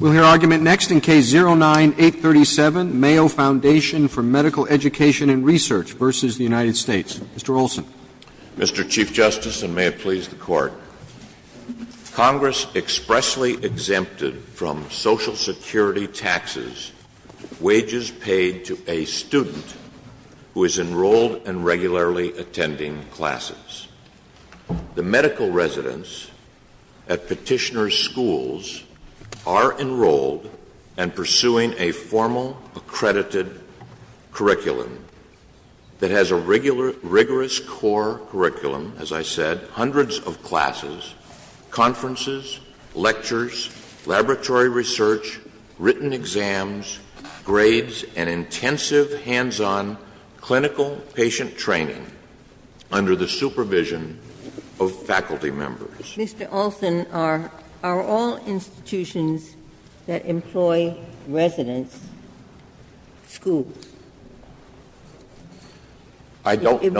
Mr. Olson. Mr. Chief Justice, and may it please the Court, Congress expressly exempted from Social Security taxes wages paid to a student who is enrolled and regularly attending classes. at petitioner's schools are enrolled and pursuing a formal, accredited curriculum that has a rigorous core curriculum, as I said, hundreds of classes, conferences, lectures, laboratory research, written exams, grades, and intensive hands-on clinical patient training under the supervision of faculty members. Mr. Olson, are all institutions that employ residents schools? I don't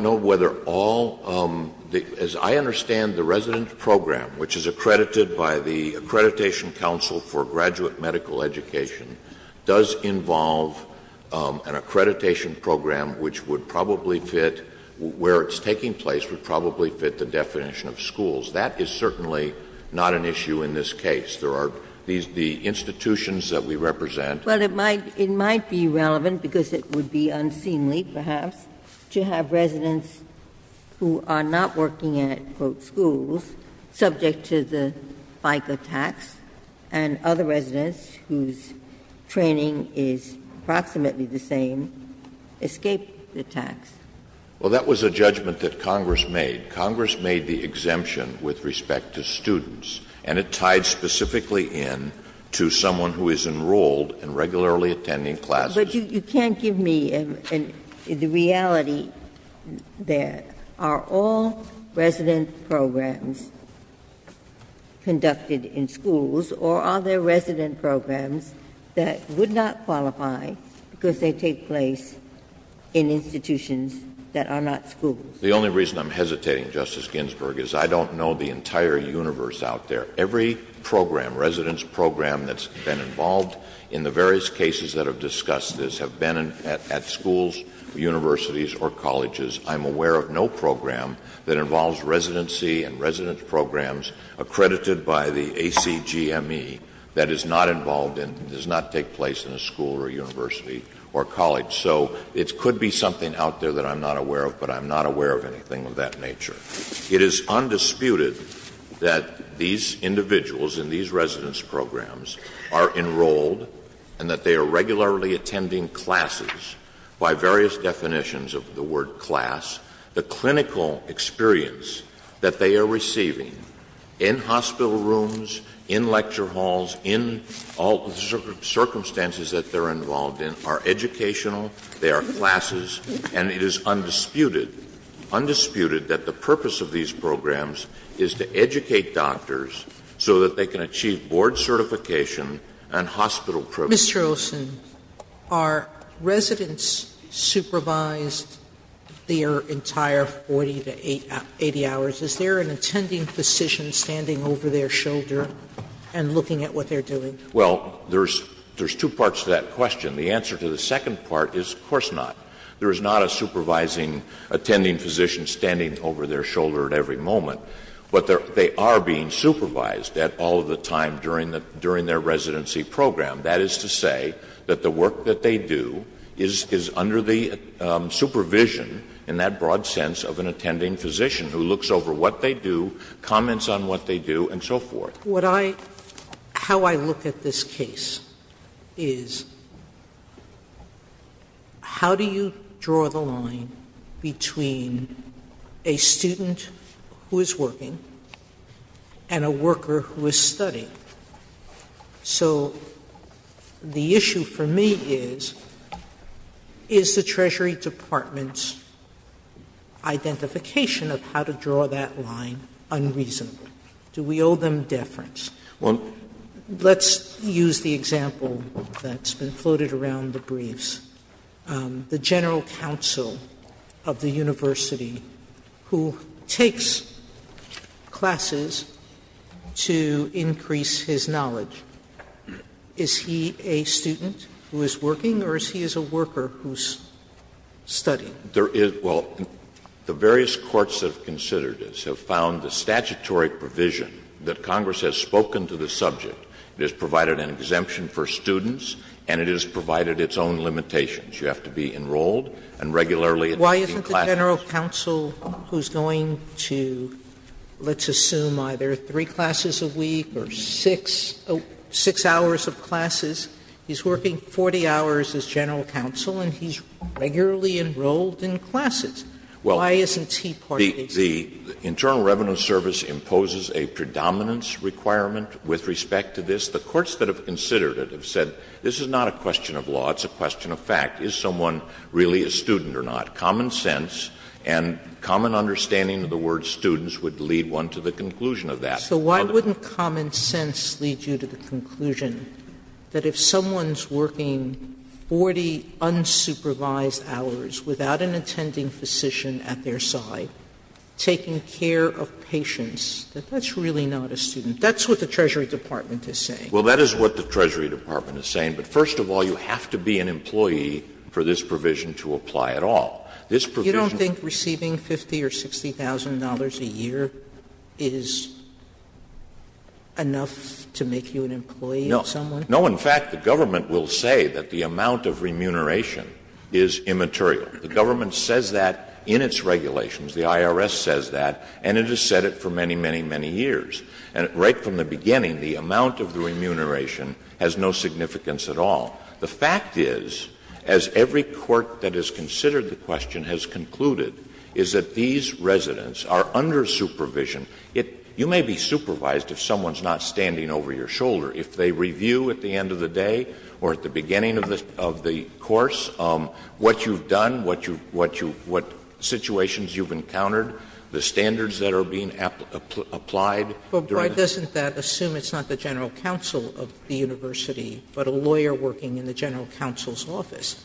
know whether all the, as I understand the resident program, which is accredited by the Accreditation Council for Graduate Medical Education, does involve an accreditation program which would probably fit where it's taking place, would probably fit the definition of schools. That is certainly not an issue in this case. There are the institutions that we represent. Well, it might be relevant, because it would be unseemly, perhaps, to have residents who are not working at, quote, schools, subject to the FICA tax, and other residents whose training is approximately the same escape the tax. Well, that was a judgment that Congress made. Congress made the exemption with respect to students, and it tied specifically in to someone who is enrolled and regularly attending classes. But you can't give me the reality there. Are all resident programs conducted in schools, or are there resident programs that would not qualify because they take place in institutions that are not schools? The only reason I'm hesitating, Justice Ginsburg, is I don't know the entire universe out there. Every program, resident's program that's been involved in the various cases that have discussed this have been at schools, universities, or colleges. I'm aware of no program that involves residency and resident's programs accredited by the ACGME that is not involved in, does not take place in a school or a university or college. So it could be something out there that I'm not aware of, but I'm not aware of anything of that nature. It is undisputed that these individuals in these resident's programs are enrolled and that they are regularly attending classes by various definitions of the word class. The clinical experience that they are receiving in hospital rooms, in lecture halls, in all circumstances that they're involved in are educational, they are classes, and it is undisputed, undisputed that the purpose of these programs is to educate doctors so that they can achieve board certification and hospital privilege. Sotomayor, are residents supervised their entire 40 to 80 hours? Is there an attending physician standing over their shoulder and looking at what they're doing? Well, there's two parts to that question. The answer to the second part is of course not. There is not a supervising, attending physician standing over their shoulder at every moment, but they are being supervised at all of the time during their residency program. That is to say that the work that they do is under the supervision in that broad sense of an attending physician who looks over what they do, comments on what they do, and so forth. Sotomayor, how I look at this case is, how do you draw the line between a student who is working and a worker who is studying? So the issue for me is, is the Treasury Department's identification of how to draw that line unreasonable? Do we owe them deference? Let's use the example that's been floated around the briefs. The general counsel of the university who takes classes to increase his knowledge, is he a student who is working or is he a worker who is studying? There is – well, the various courts that have considered this have found the statutory provision that Congress has spoken to the subject. It has provided an exemption for students and it has provided its own limitations. You have to be enrolled and regularly attending classes. Sotomayor, why isn't the general counsel who is going to, let's assume, either three classes a week or six hours of classes, he's working 40 hours as general counsel and he's regularly enrolled in classes? Why isn't he part of the institution? So why wouldn't common sense lead you to the conclusion that if someone is working 40 unsupervised hours without an attending physician at their side, taking care of students, that that's really not a student? That's what the Treasury Department is saying. Well, that is what the Treasury Department is saying. But first of all, you have to be an employee for this provision to apply at all. This provision – You don't think receiving $50,000 or $60,000 a year is enough to make you an employee of someone? No. In fact, the government will say that the amount of remuneration is immaterial. The government says that in its regulations. The IRS says that, and it has said it for many, many, many years. And right from the beginning, the amount of the remuneration has no significance at all. The fact is, as every court that has considered the question has concluded, is that these residents are under supervision. You may be supervised if someone is not standing over your shoulder. If they review at the end of the day or at the beginning of the course what you've encountered, the standards that are being applied during the course of the review. Sotomayor, but why doesn't that assume it's not the general counsel of the university, but a lawyer working in the general counsel's office?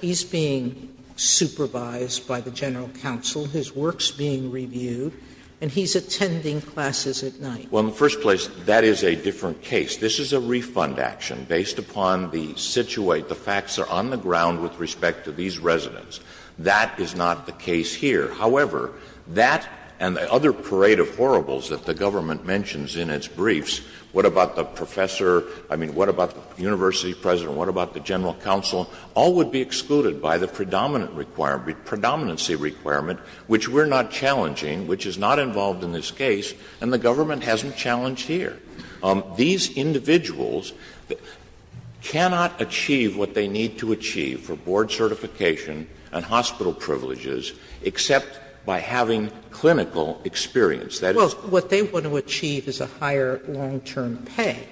He's being supervised by the general counsel, his work's being reviewed, and he's attending classes at night. Well, in the first place, that is a different case. This is a refund action based upon the situate, the facts are on the ground with respect to these residents. That is not the case here. However, that and the other parade of horribles that the government mentions in its briefs, what about the professor, I mean, what about the university president, what about the general counsel, all would be excluded by the predominant requirement, the predominancy requirement, which we're not challenging, which is not involved in this case, and the government hasn't challenged here. These individuals cannot achieve what they need to achieve for board certification and hospital privileges except by having clinical experience. That is the point. Sotomayor, what they want to achieve is a higher long-term pay,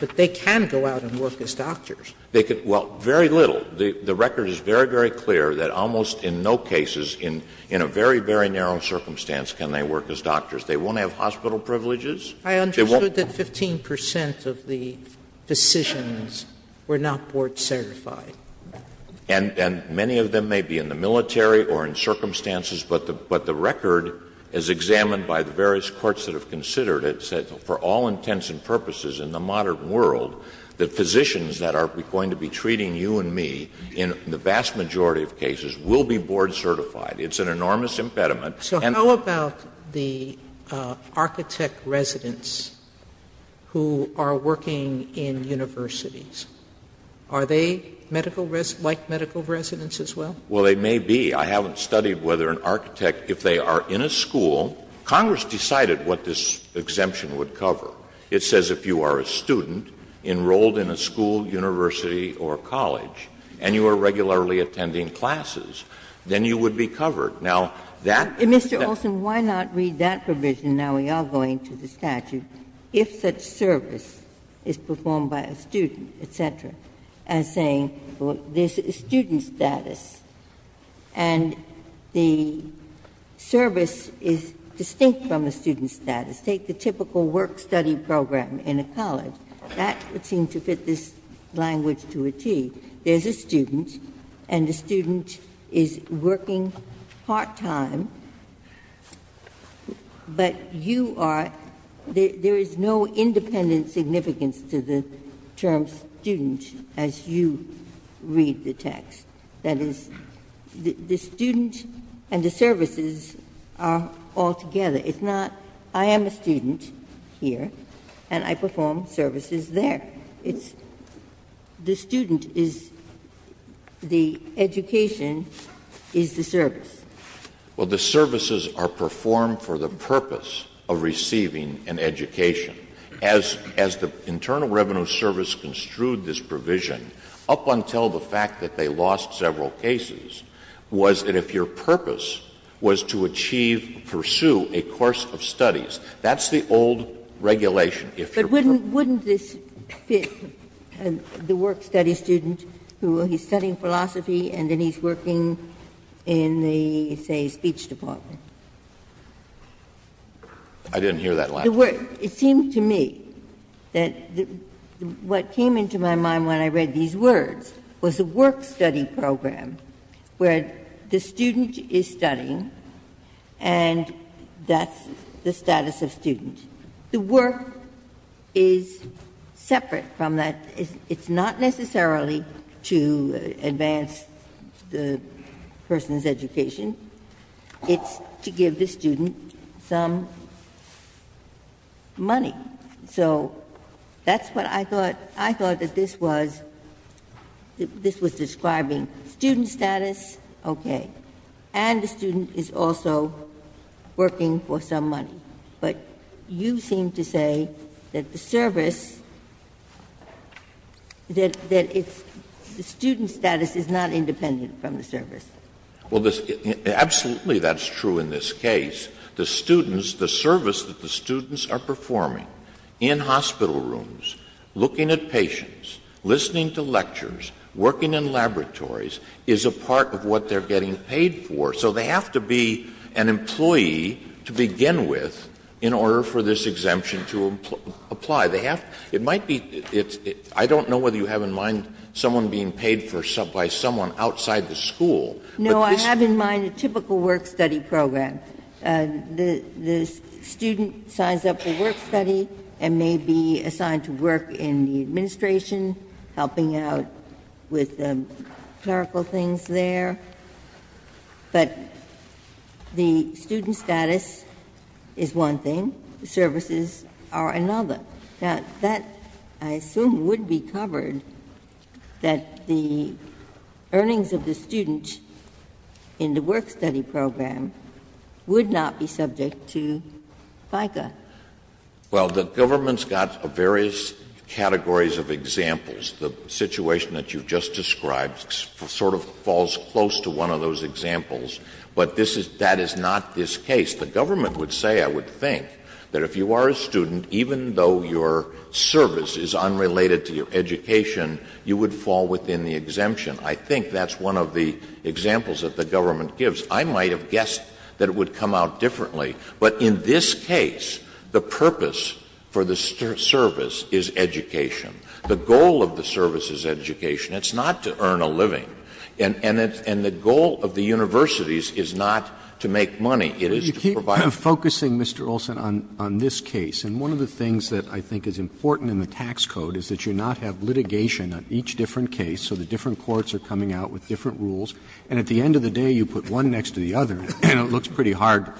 but they can go out and work as doctors. They can do very little. The record is very, very clear that almost in no cases in a very, very narrow circumstance can they work as doctors. They won't have hospital privileges. They won't. I understood that 15 percent of the physicians were not board certified. And many of them may be in the military or in circumstances, but the record is examined by the various courts that have considered it, said for all intents and purposes in the modern world, the physicians that are going to be treating you and me in the vast majority of cases will be board certified. It's an enormous impediment. Sotomayor, so how about the architect residents who are working in universities? Are they medical res — like medical residents as well? Well, they may be. I haven't studied whether an architect, if they are in a school — Congress decided what this exemption would cover. It says if you are a student enrolled in a school, university, or college, and you are regularly attending classes, then you would be covered. Now, that — Mr. Olson, why not read that provision, now we are going to the statute, if such a service is performed by a student, et cetera, as saying there is a student status, and the service is distinct from the student status. Take the typical work-study program in a college. That would seem to fit this language to a T. There is a student, and the student is working part-time, but you are — there is no independent significance to the term student as you read the text. That is, the student and the services are all together. It's not, I am a student here, and I perform services there. It's the student is the education is the service. Well, the services are performed for the purpose of receiving an education. As the Internal Revenue Service construed this provision, up until the fact that they lost several cases, was that if your purpose was to achieve, pursue a course of studies, that's the old regulation. If your purpose was to pursue a course of studies, that's the old regulation. But wouldn't this fit the work-study student who is studying philosophy and then he's working in the, say, speech department? I didn't hear that last time. It seemed to me that what came into my mind when I read these words was a work-study program where the student is studying and that's the status of student. The work is separate from that. It's not necessarily to advance the person's education. It's to give the student some money. So that's what I thought. I thought that this was describing student status, okay, and the student is also working for some money. But you seem to say that the service, that it's the student's status is not independent from the service. Absolutely that's true in this case. The students, the service that the students are performing in hospital rooms, looking at patients, listening to lectures, working in laboratories, is a part of what they're getting paid for. So they have to be an employee to begin with in order for this exemption to apply. They have to be, it might be, I don't know whether you have in mind someone being paid by someone outside the school, but this. No, I have in mind a typical work-study program. The student signs up for work-study and may be assigned to work in the administration, helping out with the clerical things there. But the student status is one thing, the services are another. Now, that I assume would be covered that the earnings of the student in the work-study program would not be subject to FICA. Well, the government's got various categories of examples. The situation that you've just described sort of falls close to one of those examples. But this is, that is not this case. The government would say, I would think, that if you are a student, even though your service is unrelated to your education, you would fall within the exemption. I think that's one of the examples that the government gives. I might have guessed that it would come out differently. But in this case, the purpose for the service is education. The goal of the service is education. It's not to earn a living. And the goal of the universities is not to make money. It is to provide. Roberts You keep focusing, Mr. Olson, on this case. And one of the things that I think is important in the tax code is that you not have litigation on each different case, so the different courts are coming out with different rules, and at the end of the day you put one next to the other and it looks pretty hard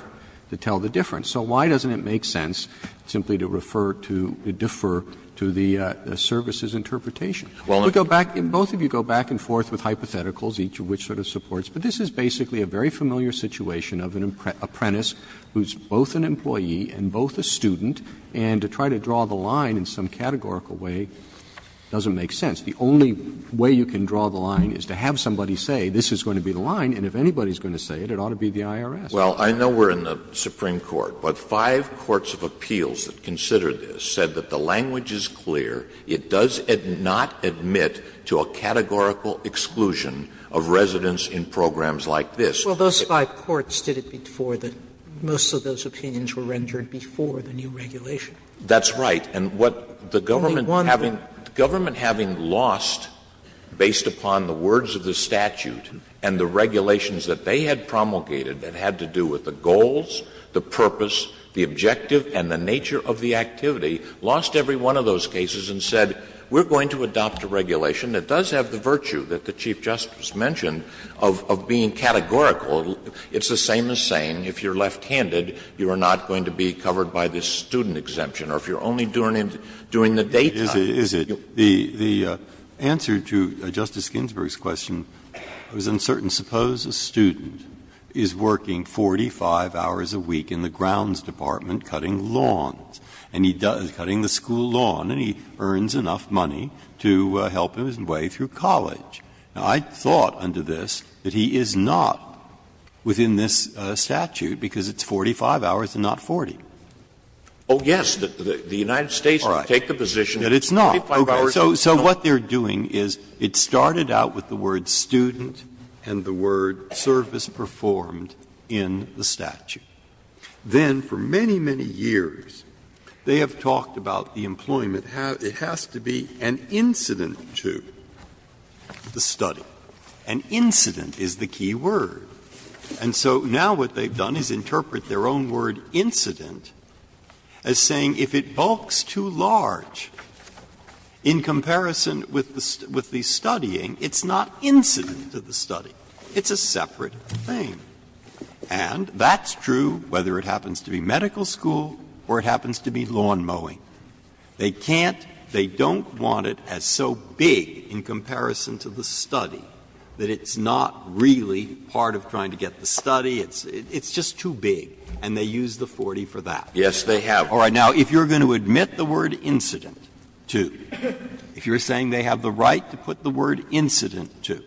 to tell the difference. So why doesn't it make sense simply to refer to, to defer to the services interpretation? Olson Well, and Roberts Both of you go back and forth with hypotheticals, each of which sort of supports. But this is basically a very familiar situation of an apprentice who is both an employee and both a student, and to try to draw the line in some categorical way doesn't make sense. The only way you can draw the line is to have somebody say this is going to be the line, and if anybody is going to say it, it ought to be the IRS. Olson Well, I know we're in the Supreme Court, but five courts of appeals that considered this said that the language is clear, it does not admit to a categorical exclusion of residents in programs like this. Sotomayor Well, those five courts did it before the new regulation. Olson That's right. And what the government having lost, based upon the words of the statute and the to do with the goals, the purpose, the objective, and the nature of the activity, lost every one of those cases and said, we're going to adopt a regulation that does have the virtue that the Chief Justice mentioned of being categorical. It's the same as saying if you're left-handed, you are not going to be covered by this student exemption, or if you're only doing it during the daytime. Breyer Is it? The answer to Justice Ginsburg's question was uncertain. Suppose a student is working 45 hours a week in the grounds department cutting lawns, and he does, cutting the school lawn, and he earns enough money to help him his way through college. Now, I thought under this that he is not within this statute, because it's 45 hours and not 40. Olson Oh, yes. So they have gone out with the words student and the word service performed in the statute. Then, for many, many years, they have talked about the employment. It has to be an incident to the study. An incident is the key word. And so now what they've done is interpret their own word incident as saying if it bulks too large in comparison with the studying, it's not incident to the study. It's a separate thing. And that's true whether it happens to be medical school or it happens to be lawn mowing. They can't, they don't want it as so big in comparison to the study that it's not really part of trying to get the study. It's just too big. And they use the 40 for that. Breyer Yes, they have. All right. Now, if you're going to admit the word incident to, if you're saying they have the right to put the word incident to,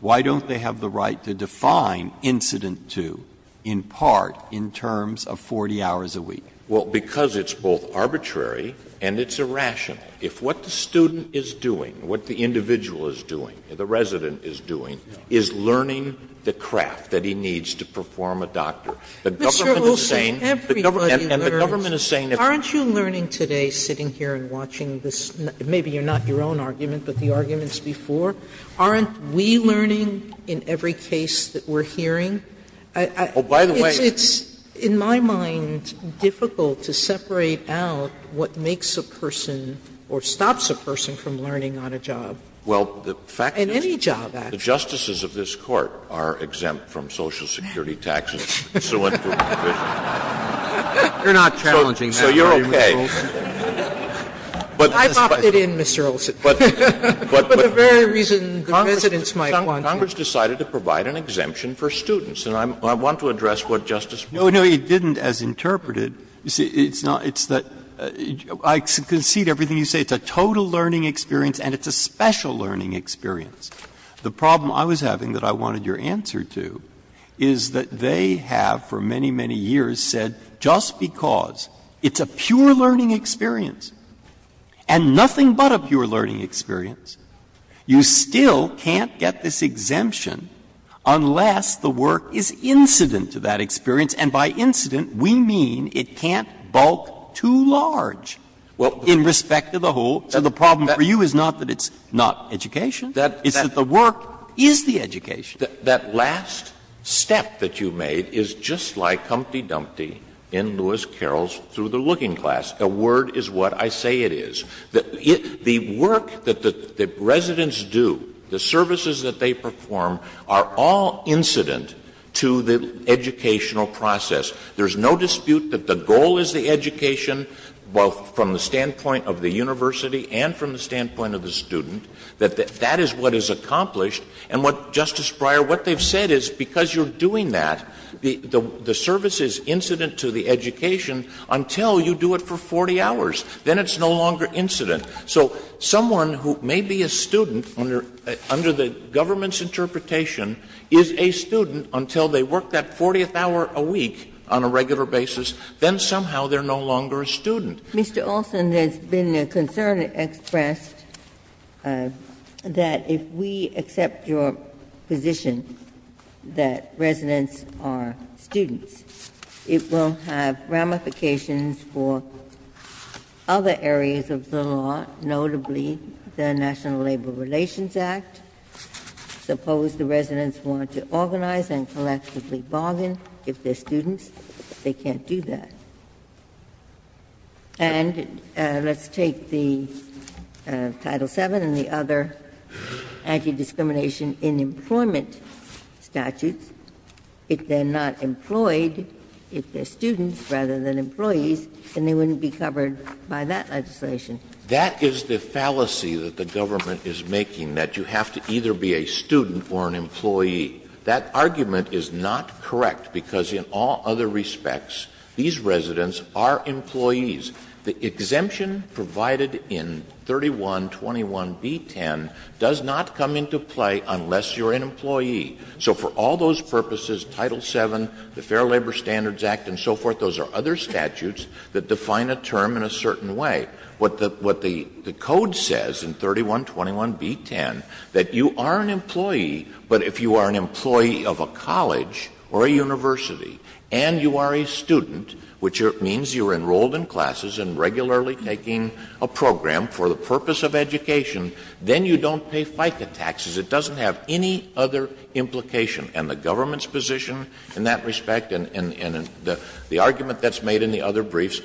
why don't they have the right to define incident to in part in terms of 40 hours a week? Olson Well, because it's both arbitrary and it's irrational. If what the student is doing, what the individual is doing, the resident is doing, is learning the craft that he needs to perform a doctor. The government is saying Sotomayor Mr. Olson, everybody learns. The government is saying if Sotomayor Aren't you learning today, sitting here and watching this, maybe you're not your own argument, but the arguments before, aren't we learning in every case that we're hearing? Olson Oh, by the way Sotomayor It's, in my mind, difficult to separate out what makes a person or stops a person from learning on a job. Olson Well, the fact is Sotomayor In any job, actually Olson the justices of this Court are exempt from Social Security taxes, so it's a provision. Sotomayor You're not challenging that, are you, Mr. Olson? Olson So you're okay. But Sotomayor I bopped it in, Mr. Olson, for the very reason the residents might want to. Olson Congress decided to provide an exemption for students, and I want to address what Justice Breyer said. Breyer No, no, it didn't, as interpreted. It's not that you see, I concede everything you say. It's a total learning experience and it's a special learning experience. The problem I was having that I wanted your answer to is that they have, for many, many years, said just because it's a pure learning experience and nothing but a pure learning experience, you still can't get this exemption unless the work is incident to that experience, and by incident, we mean it can't bulk too large in respect to the whole. So the problem for you is not that it's not education. Olson That Breyer It's that the work is the education. Olson That last step that you made is just like Humpty Dumpty in Lewis Carroll's Through the Looking Glass. A word is what I say it is. The work that the residents do, the services that they perform, are all incident to the educational process. There's no dispute that the goal is the education, both from the standpoint of the university and from the standpoint of the student, that that is what is accomplished. And what, Justice Breyer, what they've said is because you're doing that, the service is incident to the education until you do it for 40 hours. Then it's no longer incident. So someone who may be a student under the government's interpretation is a student until they work that 40th hour a week on a regular basis, then somehow they're no longer a student. Mr. Olson, there's been a concern expressed that if we accept your position that residents are students, it will have ramifications for other areas of the law, notably the National Labor Relations Act. Suppose the residents want to organize and collectively bargain. If they're students, they can't do that. And let's take the Title VII and the other anti-discrimination in employment statutes. If they're not employed, if they're students rather than employees, then they wouldn't be covered by that legislation. That is the fallacy that the government is making, that you have to either be a student or an employee. That argument is not correct, because in all other respects, these residents are employees. The exemption provided in 3121b10 does not come into play unless you're an employee. So for all those purposes, Title VII, the Fair Labor Standards Act and so forth, those are other statutes that define a term in a certain way. What the code says in 3121b10, that you are an employee, but if you are an employee of a college or a university, and you are a student, which means you're enrolled in classes and regularly taking a program for the purpose of education, then you don't pay FICA taxes. It doesn't have any other implication. And the government's position in that respect, and the argument that's made in the other briefs,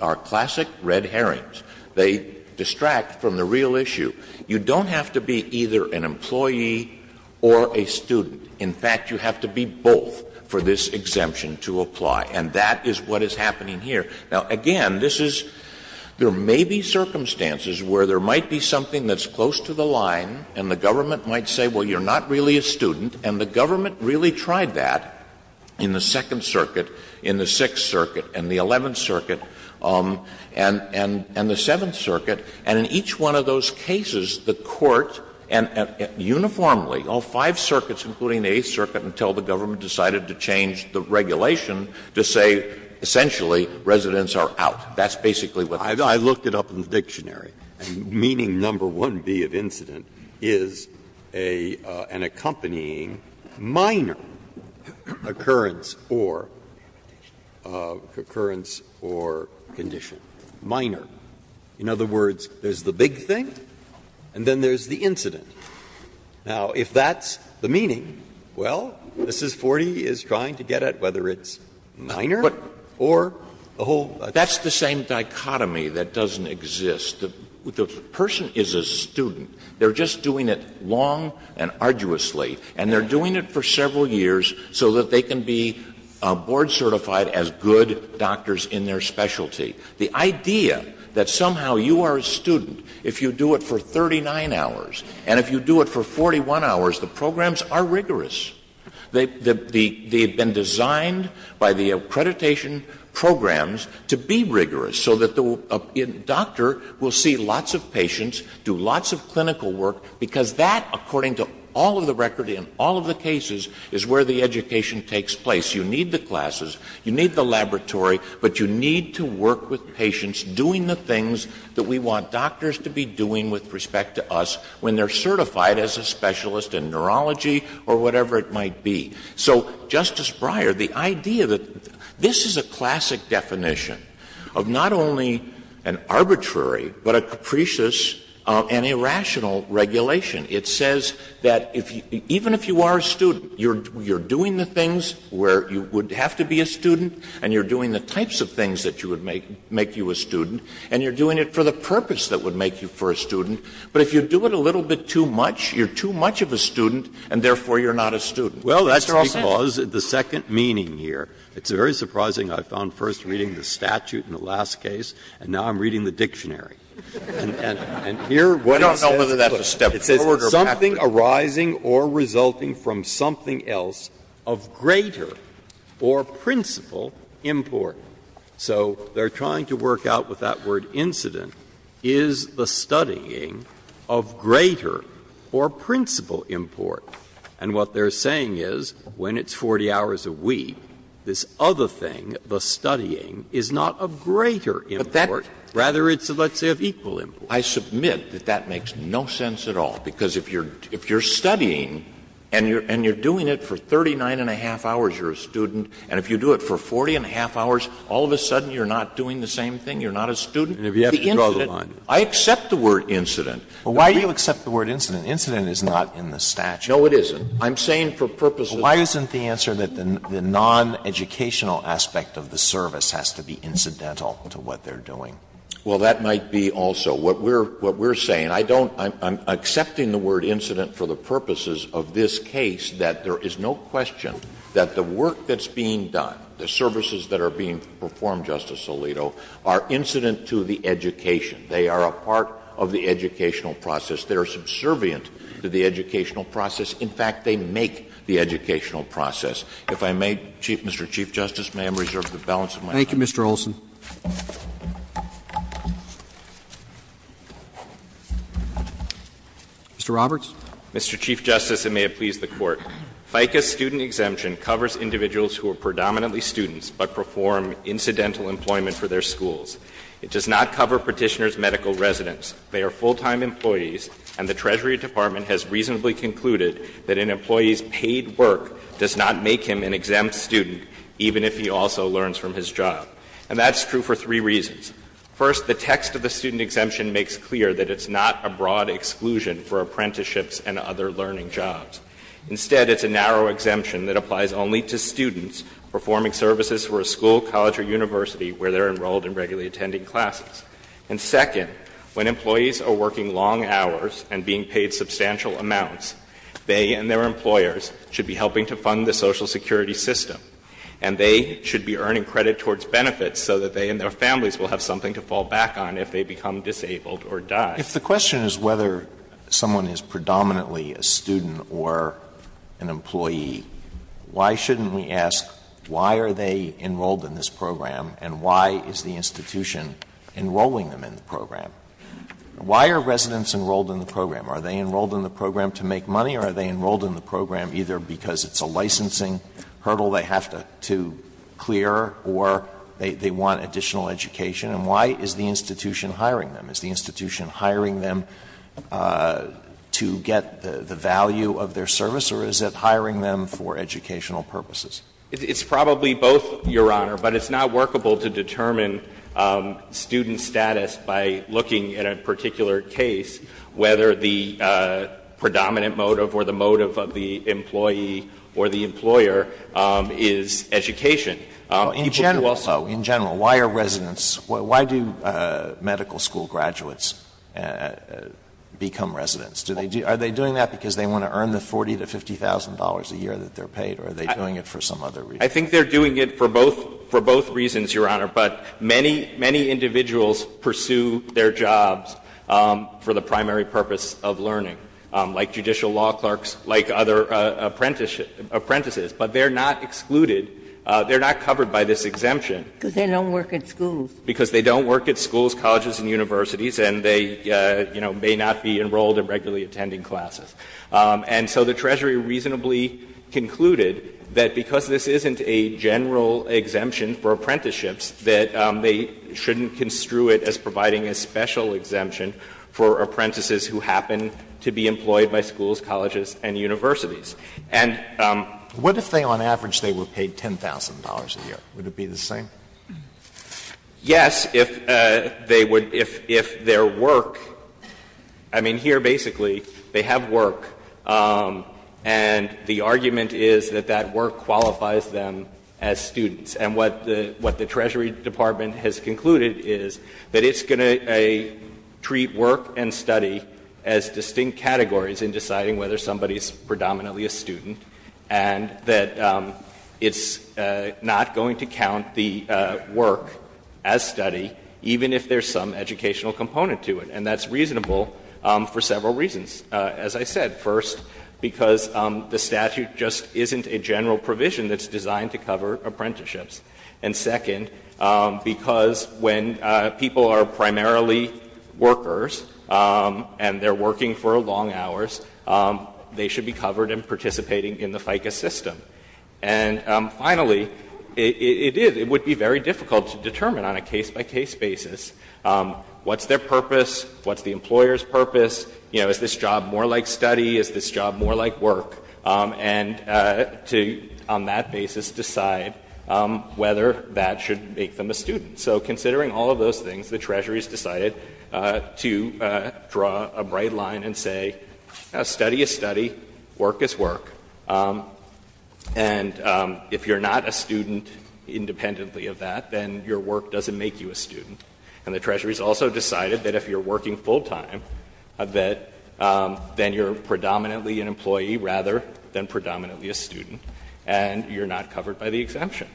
are classic red herrings. They distract from the real issue. You don't have to be either an employee or a student. In fact, you have to be both for this exemption to apply. And that is what is happening here. Now, again, this is — there may be circumstances where there might be something that's close to the line, and the government might say, well, you're not really a student, and the government really tried that in the Second Circuit, in the Sixth Circuit, and the Eleventh Circuit, and the Seventh Circuit. And in each one of those cases, the Court, and uniformly, all five circuits, including the Eighth Circuit, until the government decided to change the regulation, to say essentially residents are out. That's basically what this is. Breyer, I looked it up in the dictionary, meaning number 1B of incident is a — an accompanying minor occurrence or — occurrence or condition, minor. In other words, there's the big thing, and then there's the incident. Now, if that's the meaning, well, this is 40 is trying to get at whether it's minor or a whole other thing. That's the same dichotomy that doesn't exist. The person is a student. They're just doing it long and arduously, and they're doing it for several years so that they can be board certified as good doctors in their specialty. The idea that somehow you are a student if you do it for 39 hours, and if you do it for 41 hours, the programs are rigorous. They've been designed by the accreditation programs to be rigorous so that the doctor will see lots of patients, do lots of clinical work, because that, according to all of the record in all of the cases, is where the education takes place. You need the classes, you need the laboratory, but you need to work with patients doing the things that we want doctors to be doing with respect to us when they're certified as a specialist in neurology or whatever it might be. So, Justice Breyer, the idea that — this is a classic definition of not only an arbitrary, but a capricious and irrational regulation. It says that even if you are a student, you're doing the things where you would have to be a student, and you're doing the types of things that would make you a student, and you're doing it for the purpose that would make you a student. But if you do it a little bit too much, you're too much of a student, and therefore you're not a student. Breyer, that's because of the second meaning here. It's very surprising I found first reading the statute in the last case, and now I'm reading the dictionary. And here what it says is something arising or resulting from something else of greater or principal import. So they're trying to work out with that word incident, is the studying of greater or principal import. And what they're saying is when it's 40 hours a week, this other thing, the studying, is not of greater import. It's of equal import. I submit that that makes no sense at all, because if you're studying and you're doing it for 39 and a half hours, you're a student, and if you do it for 40 and a half hours, all of a sudden you're not doing the same thing, you're not a student. I accept the word incident. Alito, why do you accept the word incident? Incident is not in the statute. No, it isn't. I'm saying for purposes of the statute. Why isn't the answer that the noneducational aspect of the service has to be incidental to what they're doing? Well, that might be also what we're saying. I don't — I'm accepting the word incident for the purposes of this case, that there is no question that the work that's being done, the services that are being performed, Justice Alito, are incident to the education. They are a part of the educational process. They are subservient to the educational process. In fact, they make the educational process. If I may, Mr. Chief Justice, may I reserve the balance of my time? Thank you, Mr. Olson. Mr. Roberts. Mr. Chief Justice, and may it please the Court, FICA's student exemption covers individuals who are predominantly students but perform incidental employment for their schools. It does not cover Petitioner's medical residence. They are full-time employees, and the Treasury Department has reasonably concluded that an employee's paid work does not make him an exempt student, even if he also learns from his job. And that's true for three reasons. First, the text of the student exemption makes clear that it's not a broad exclusion for apprenticeships and other learning jobs. Instead, it's a narrow exemption that applies only to students performing services for a school, college, or university where they are enrolled and regularly attending classes. And second, when employees are working long hours and being paid substantial amounts, they and their employers should be helping to fund the Social Security system. And they should be earning credit towards benefits so that they and their families will have something to fall back on if they become disabled or die. Alitoso, if the question is whether someone is predominantly a student or an employee, why shouldn't we ask why are they enrolled in this program, and why is the institution enrolling them in the program? Why are residents enrolled in the program? Are they enrolled in the program to make money, or are they enrolled in the program either because it's a licensing hurdle they have to clear or they want additional education? And why is the institution hiring them? Is the institution hiring them to get the value of their service, or is it hiring them for educational purposes? It's probably both, Your Honor, but it's not workable to determine student status by looking at a particular case whether the predominant motive or the motive of the employee or the employer is education. Alitoso, in general, why are residents why do medical school graduates become residents? Are they doing that because they want to earn the $40,000 to $50,000 a year that they're paid, or are they doing it for some other reason? I think they're doing it for both reasons, Your Honor, but many, many individuals pursue their jobs for the primary purpose of learning, like judicial law clerks, like other apprentices, but they're not excluded, they're not covered by this exemption. Because they don't work at schools. Because they don't work at schools, colleges, and universities, and they, you know, may not be enrolled in regularly attending classes. And so the Treasury reasonably concluded that because this isn't a general exemption for apprenticeships, that they shouldn't construe it as providing a special exemption for apprentices who happen to be employed by schools, colleges, and universities. And the reason why they're not excluded is because they're not covered by this exemption. Alitoso, what if they were paid $10,000 a year, would it be the same? Yes, if they would, if their work, I mean, here, basically, they have work, and the argument is that that work qualifies them as students, and what the Treasury Department has concluded is that it's going to treat work and study as distinct categories in deciding whether somebody is predominantly a student, and that it's not going to count the work as study, even if there's some educational component to it. And that's reasonable for several reasons, as I said. First, because the statute just isn't a general provision that's designed to cover apprenticeships. And second, because when people are primarily workers and they're working for long hours, they should be covered in participating in the FICA system. And finally, it is, it would be very difficult to determine on a case-by-case basis what's their purpose, what's the employer's purpose, you know, is this job more like study, is this job more like work, and to, on that basis, decide whether that should make them a student. So considering all of those things, the Treasury has decided to draw a bright line and say, study is study, work is work, and if you're not a student independently of that, then your work doesn't make you a student. And the Treasury has also decided that if you're working full-time, then you're predominantly an employee rather than predominantly a student, and you're not covered by the exemption.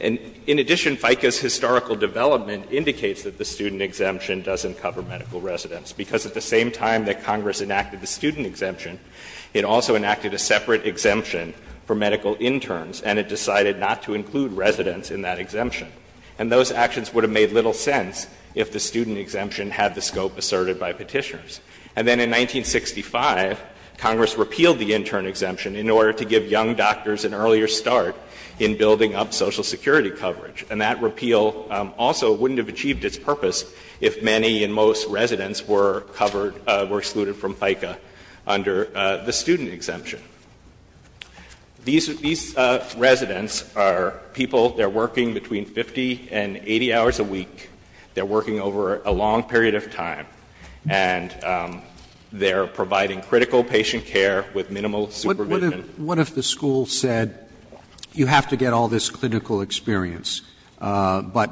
And in addition, FICA's historical development indicates that the student exemption doesn't cover medical residents, because at the same time that Congress enacted the student exemption, it also enacted a separate exemption for medical interns, and it decided not to include residents in that exemption. And those actions would have made little sense if the student exemption had the scope asserted by Petitioners. And then in 1965, Congress repealed the intern exemption in order to give young doctors an earlier start in building up Social Security coverage. And that repeal also wouldn't have achieved its purpose if many and most residents were covered, were excluded from FICA under the student exemption. These residents are people, they're working between 50 and 80 hours a week. They're working over a long period of time. And they're providing critical patient care with minimal supervision. Roberts What if the school said, you have to get all this clinical experience, but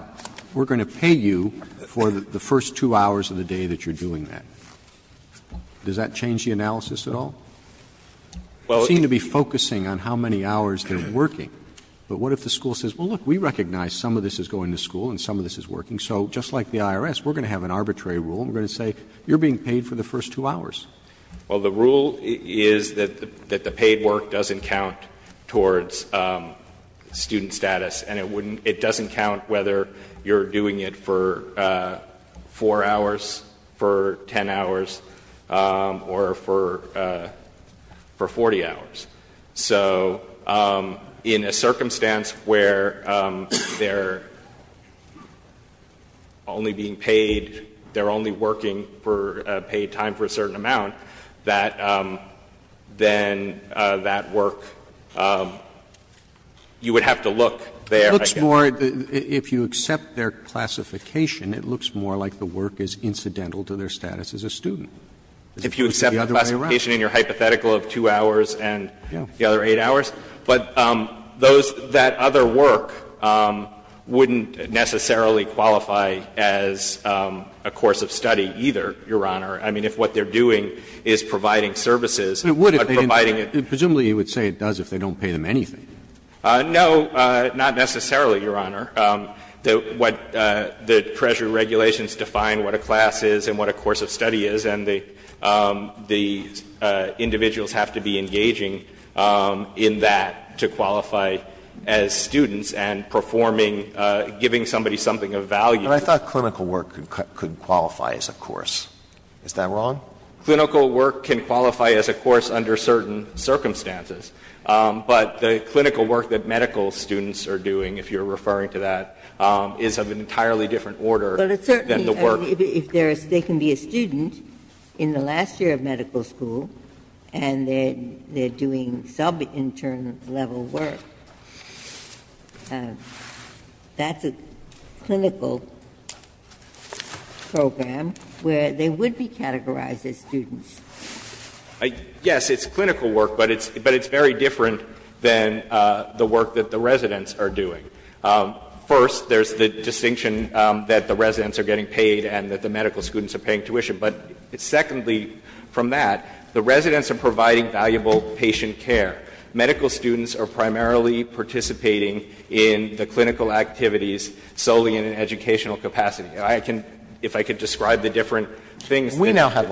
we're going to pay you for the first two hours of the day that you're doing that? Does that change the analysis at all? You seem to be focusing on how many hours they're working. But what if the school says, well, look, we recognize some of this is going to school and some of this is working, so just like the IRS, we're going to have an arbitrary rule and we're going to say, you're being paid for the first two hours. Well, the rule is that the paid work doesn't count towards student status. And it doesn't count whether you're doing it for 4 hours, for 10 hours, or for 40 hours. So in a circumstance where they're only being paid, they're only working for a paid time for a certain amount, that then that work, you would have to look there. Roberts It looks more, if you accept their classification, it looks more like the work is incidental to their status as a student. If you accept the classification and your hypothetical of 2 hours and the other 8 hours. But those, that other work wouldn't necessarily qualify as a course of study either, Your Honor. I mean, if what they're doing is providing services, but providing it. Roberts Presumably you would say it does if they don't pay them anything. No, not necessarily, Your Honor. What the pressure regulations define what a class is and what a course of study is, and the individuals have to be engaging in that to qualify as students and performing or giving somebody something of value. Alito But I thought clinical work could qualify as a course. Is that wrong? Roberts Clinical work can qualify as a course under certain circumstances. But the clinical work that medical students are doing, if you're referring to that, is of an entirely different order than the work. Ginsburg If there's they can be a student in the last year of medical school and they're doing sub-intern level work, that's a clinical program where they would be categorized as students. Alito Yes, it's clinical work, but it's very different than the work that the residents are doing. First, there's the distinction that the residents are getting paid and that the medical students are paying tuition. But secondly, from that, the residents are providing valuable patient care. Medical students are primarily participating in the clinical activities solely in an educational capacity. I can — if I could describe the different things that they're doing. Alito We now have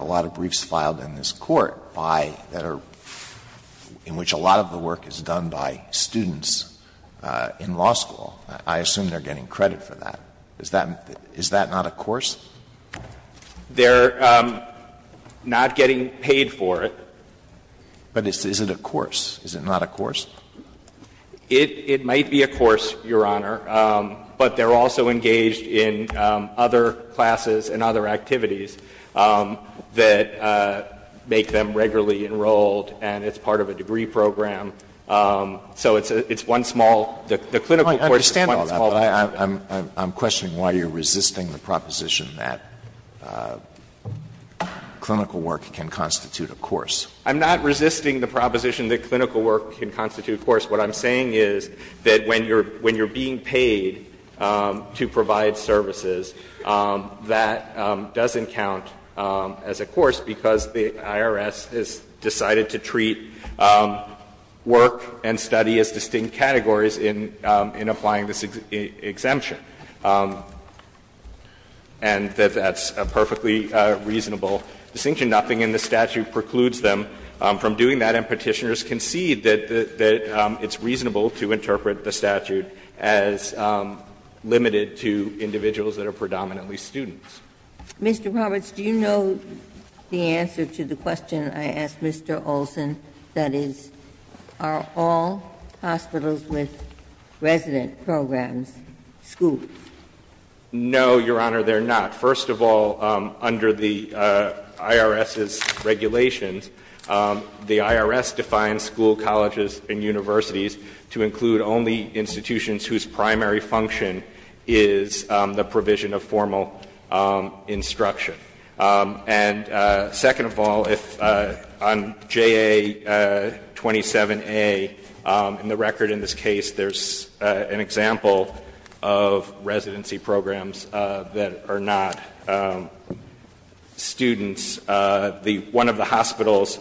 a lot of briefs filed in this Court by — in which a lot of the work is done by students in law school. I assume they're getting credit for that. Is that not a course? Ginsburg They're not getting paid for it. Alito But is it a course? Is it not a course? Ginsburg It might be a course, Your Honor, but they're also engaged in other classes and other activities that make them regularly enrolled and it's part of a degree program so it's one small — the clinical course is one small part of it. Alito I understand all that, but I'm questioning why you're resisting the proposition that clinical work can constitute a course. Ginsburg I'm not resisting the proposition that clinical work can constitute a course. What I'm saying is that when you're being paid to provide services, that doesn't count as a course because the IRS has decided to treat work and study as distinct categories in applying this exemption, and that's a perfectly reasonable distinction. Nothing in the statute precludes them from doing that, and Petitioners concede that it's reasonable to interpret the statute as limited to individuals that are predominantly students. Ginsburg Mr. Roberts, do you know the answer to the question I asked Mr. Olson, that is, are all hospitals with resident programs schools? Roberts No, Your Honor, they're not. First of all, under the IRS's regulations, the IRS defines school colleges and universities to include only institutions whose primary function is the provision of formal instruction. And second of all, on JA-27A, in the record in this case, there's an example of residency programs that are not students. One of the hospitals,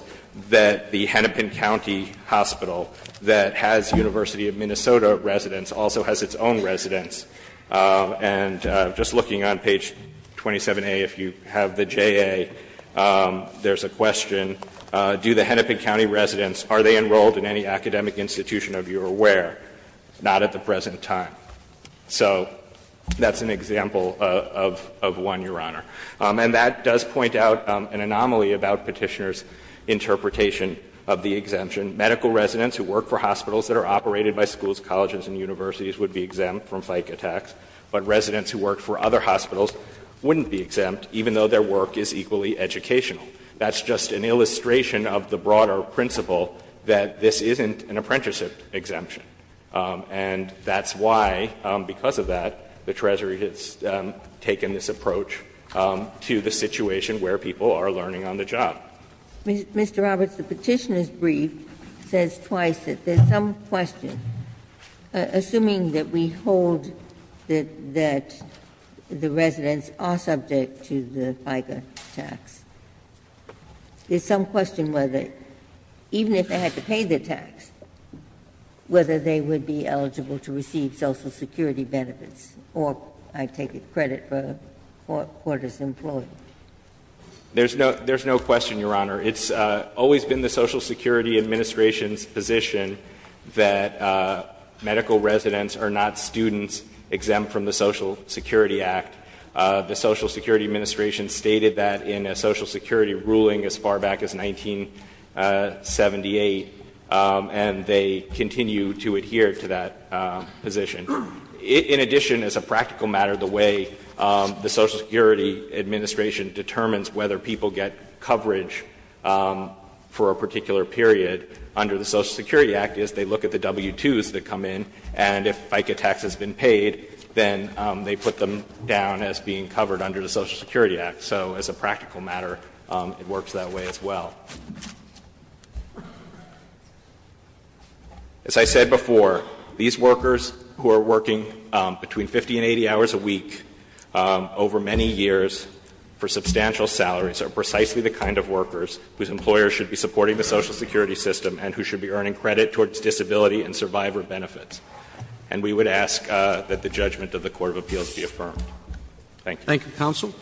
the Hennepin County Hospital, that has University of Minnesota residents also has its own residents. And just looking on page 27A, if you have the JA, there's a question, do the Hennepin County residents, are they enrolled in any academic institution of your aware? Not at the present time. So that's an example of one, Your Honor. And that does point out an anomaly about Petitioner's interpretation of the exemption. Medical residents who work for hospitals that are operated by schools, colleges and universities would be exempt from FICA tax, but residents who work for other hospitals wouldn't be exempt, even though their work is equally educational. That's just an illustration of the broader principle that this isn't an apprenticeship exemption. And that's why, because of that, the Treasury has taken this approach to the situation where people are learning on the job. Ginsburg. Mr. Roberts, the Petitioner's brief says twice that there's some question, assuming that we hold that the residents are subject to the FICA tax, there's some question whether, even if they had to pay the tax, whether they would be eligible to receive Social Security benefits or, I take it, credit for a four-quarters employee. There's no question, Your Honor. It's always been the Social Security Administration's position that medical residents are not students exempt from the Social Security Act. The Social Security Administration stated that in a Social Security ruling as far back as 1978, and they continue to adhere to that position. In addition, as a practical matter, the way the Social Security Administration determines whether people get coverage for a particular period under the Social Security Act is they look at the W-2s that come in, and if FICA tax has been paid, then they put them down as being covered under the Social Security Act. So as a practical matter, it works that way as well. As I said before, these workers who are working between 50 and 80 hours a week over many years for substantial salaries are precisely the kind of workers whose employers should be supporting the Social Security system and who should be earning credit towards disability and survivor benefits. And we would ask that the judgment of the court of appeals be affirmed. Thank you. Thank you, counsel.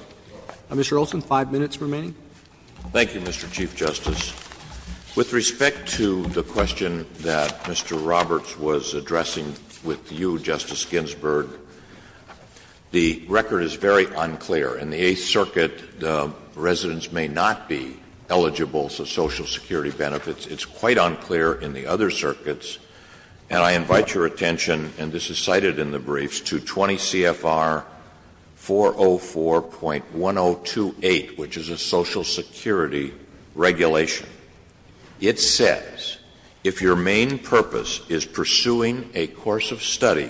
Mr. Olson, five minutes remaining. Thank you, Mr. Chief Justice. With respect to the question that Mr. Roberts was addressing with you, Justice Ginsburg, the record is very unclear. In the Eighth Circuit, the residents may not be eligible for Social Security benefits. It's quite unclear in the other circuits. And I invite your attention, and this is cited in the briefs, to 20 CFR 404.1028, which is a Social Security regulation. It says, if your main purpose is pursuing a course of study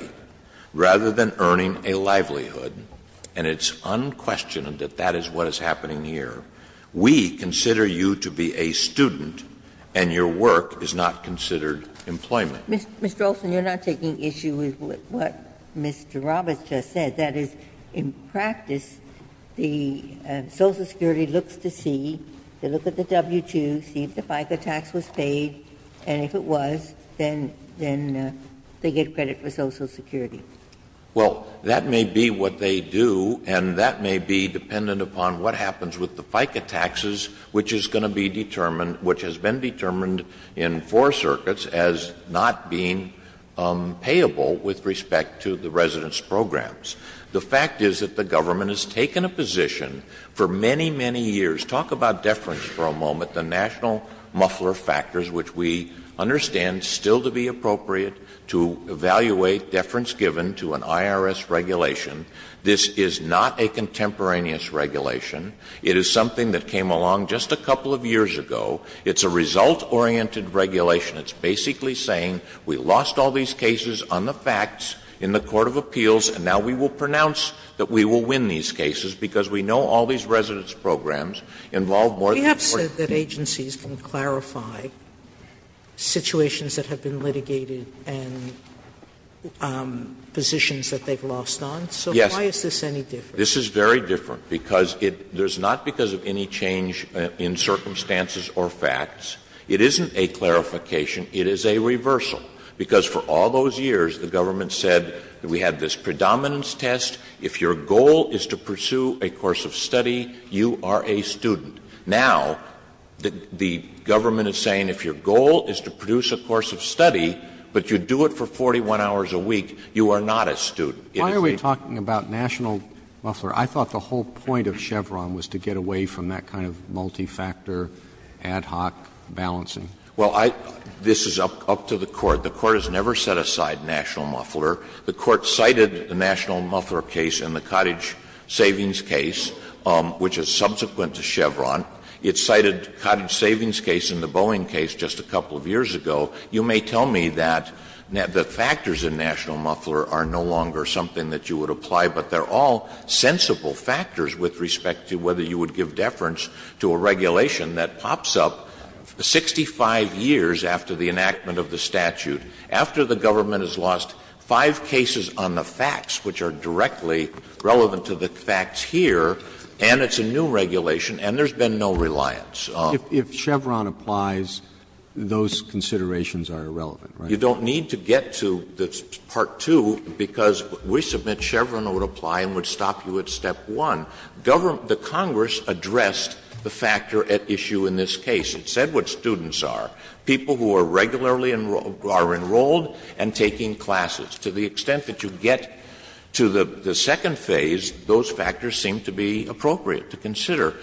rather than earning a livelihood, and it's unquestioned that that is what is happening here, we consider you to be a student and your work is not considered employment. Ms. Josephine, you are not taking issue with what Mr. Roberts just said. That is, in practice, the Social Security looks to see, they look at the W-2, see if the FICA tax was paid, and if it was, then they get credit for Social Security. Well, that may be what they do, and that may be dependent upon what happens with the W-2, which is going to be determined, which has been determined in four circuits as not being payable with respect to the residents' programs. The fact is that the government has taken a position for many, many years, talk about deference for a moment, the national muffler factors, which we understand still to be appropriate to evaluate deference given to an IRS regulation, this is not a contemporaneous regulation. It is something that came along just a couple of years ago. It's a result-oriented regulation. It's basically saying we lost all these cases on the facts in the court of appeals and now we will pronounce that we will win these cases because we know all these residents' programs involve more than one. Sotomayor, we have said that agencies can clarify situations that have been litigated and positions that they've lost on. So why is this any different? Because it — there's not because of any change in circumstances or facts. It isn't a clarification. It is a reversal. Because for all those years, the government said we had this predominance test. If your goal is to pursue a course of study, you are a student. Now, the government is saying if your goal is to produce a course of study, but you do it for 41 hours a week, you are not a student. It is a— Roberts Talking about national muffler, I thought the whole point of Chevron was to get away from that kind of multi-factor, ad hoc balancing. Olson Well, I — this is up to the Court. The Court has never set aside national muffler. The Court cited the national muffler case in the cottage savings case, which is subsequent to Chevron. It cited cottage savings case in the Boeing case just a couple of years ago. So you may tell me that the factors in national muffler are no longer something that you would apply, but they are all sensible factors with respect to whether you would give deference to a regulation that pops up 65 years after the enactment of the statute, after the government has lost five cases on the facts, which are directly relevant to the facts here, and it's a new regulation, and there's been no reliance on it. Roberts If Chevron applies, those considerations are irrelevant, right? Olson You don't need to get to part two, because we submit Chevron would apply and would stop you at step one. Government — the Congress addressed the factor at issue in this case. It said what students are, people who are regularly enrolled — are enrolled and taking classes. To the extent that you get to the second phase, those factors seem to be appropriate to consider.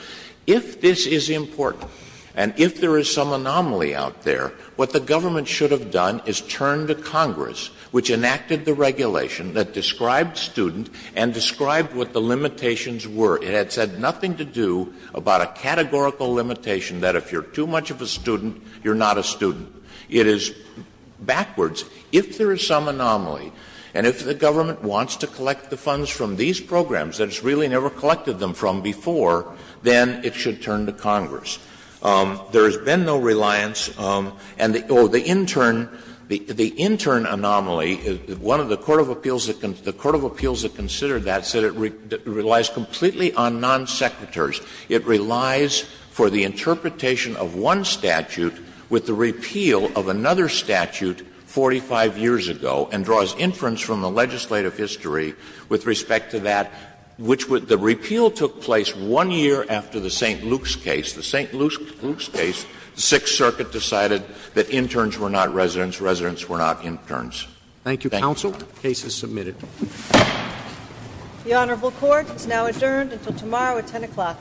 If this is important and if there is some anomaly out there, what the government should have done is turn to Congress, which enacted the regulation that described student and described what the limitations were. It had said nothing to do about a categorical limitation that if you're too much of a student, you're not a student. It is backwards. If there is some anomaly and if the government wants to collect the funds from these four, then it should turn to Congress. There has been no reliance, and the — oh, the intern, the intern anomaly, one of the court of appeals that considered that said it relies completely on non-secretaries. It relies for the interpretation of one statute with the repeal of another statute 45 years ago and draws inference from the legislative history with respect to that, which would — the repeal took place one year after the St. Luke's case. The St. Luke's case, the Sixth Circuit decided that interns were not residents, residents were not interns. Thank you, counsel. The case is submitted. The Honorable Court is now adjourned until tomorrow at 10 o'clock.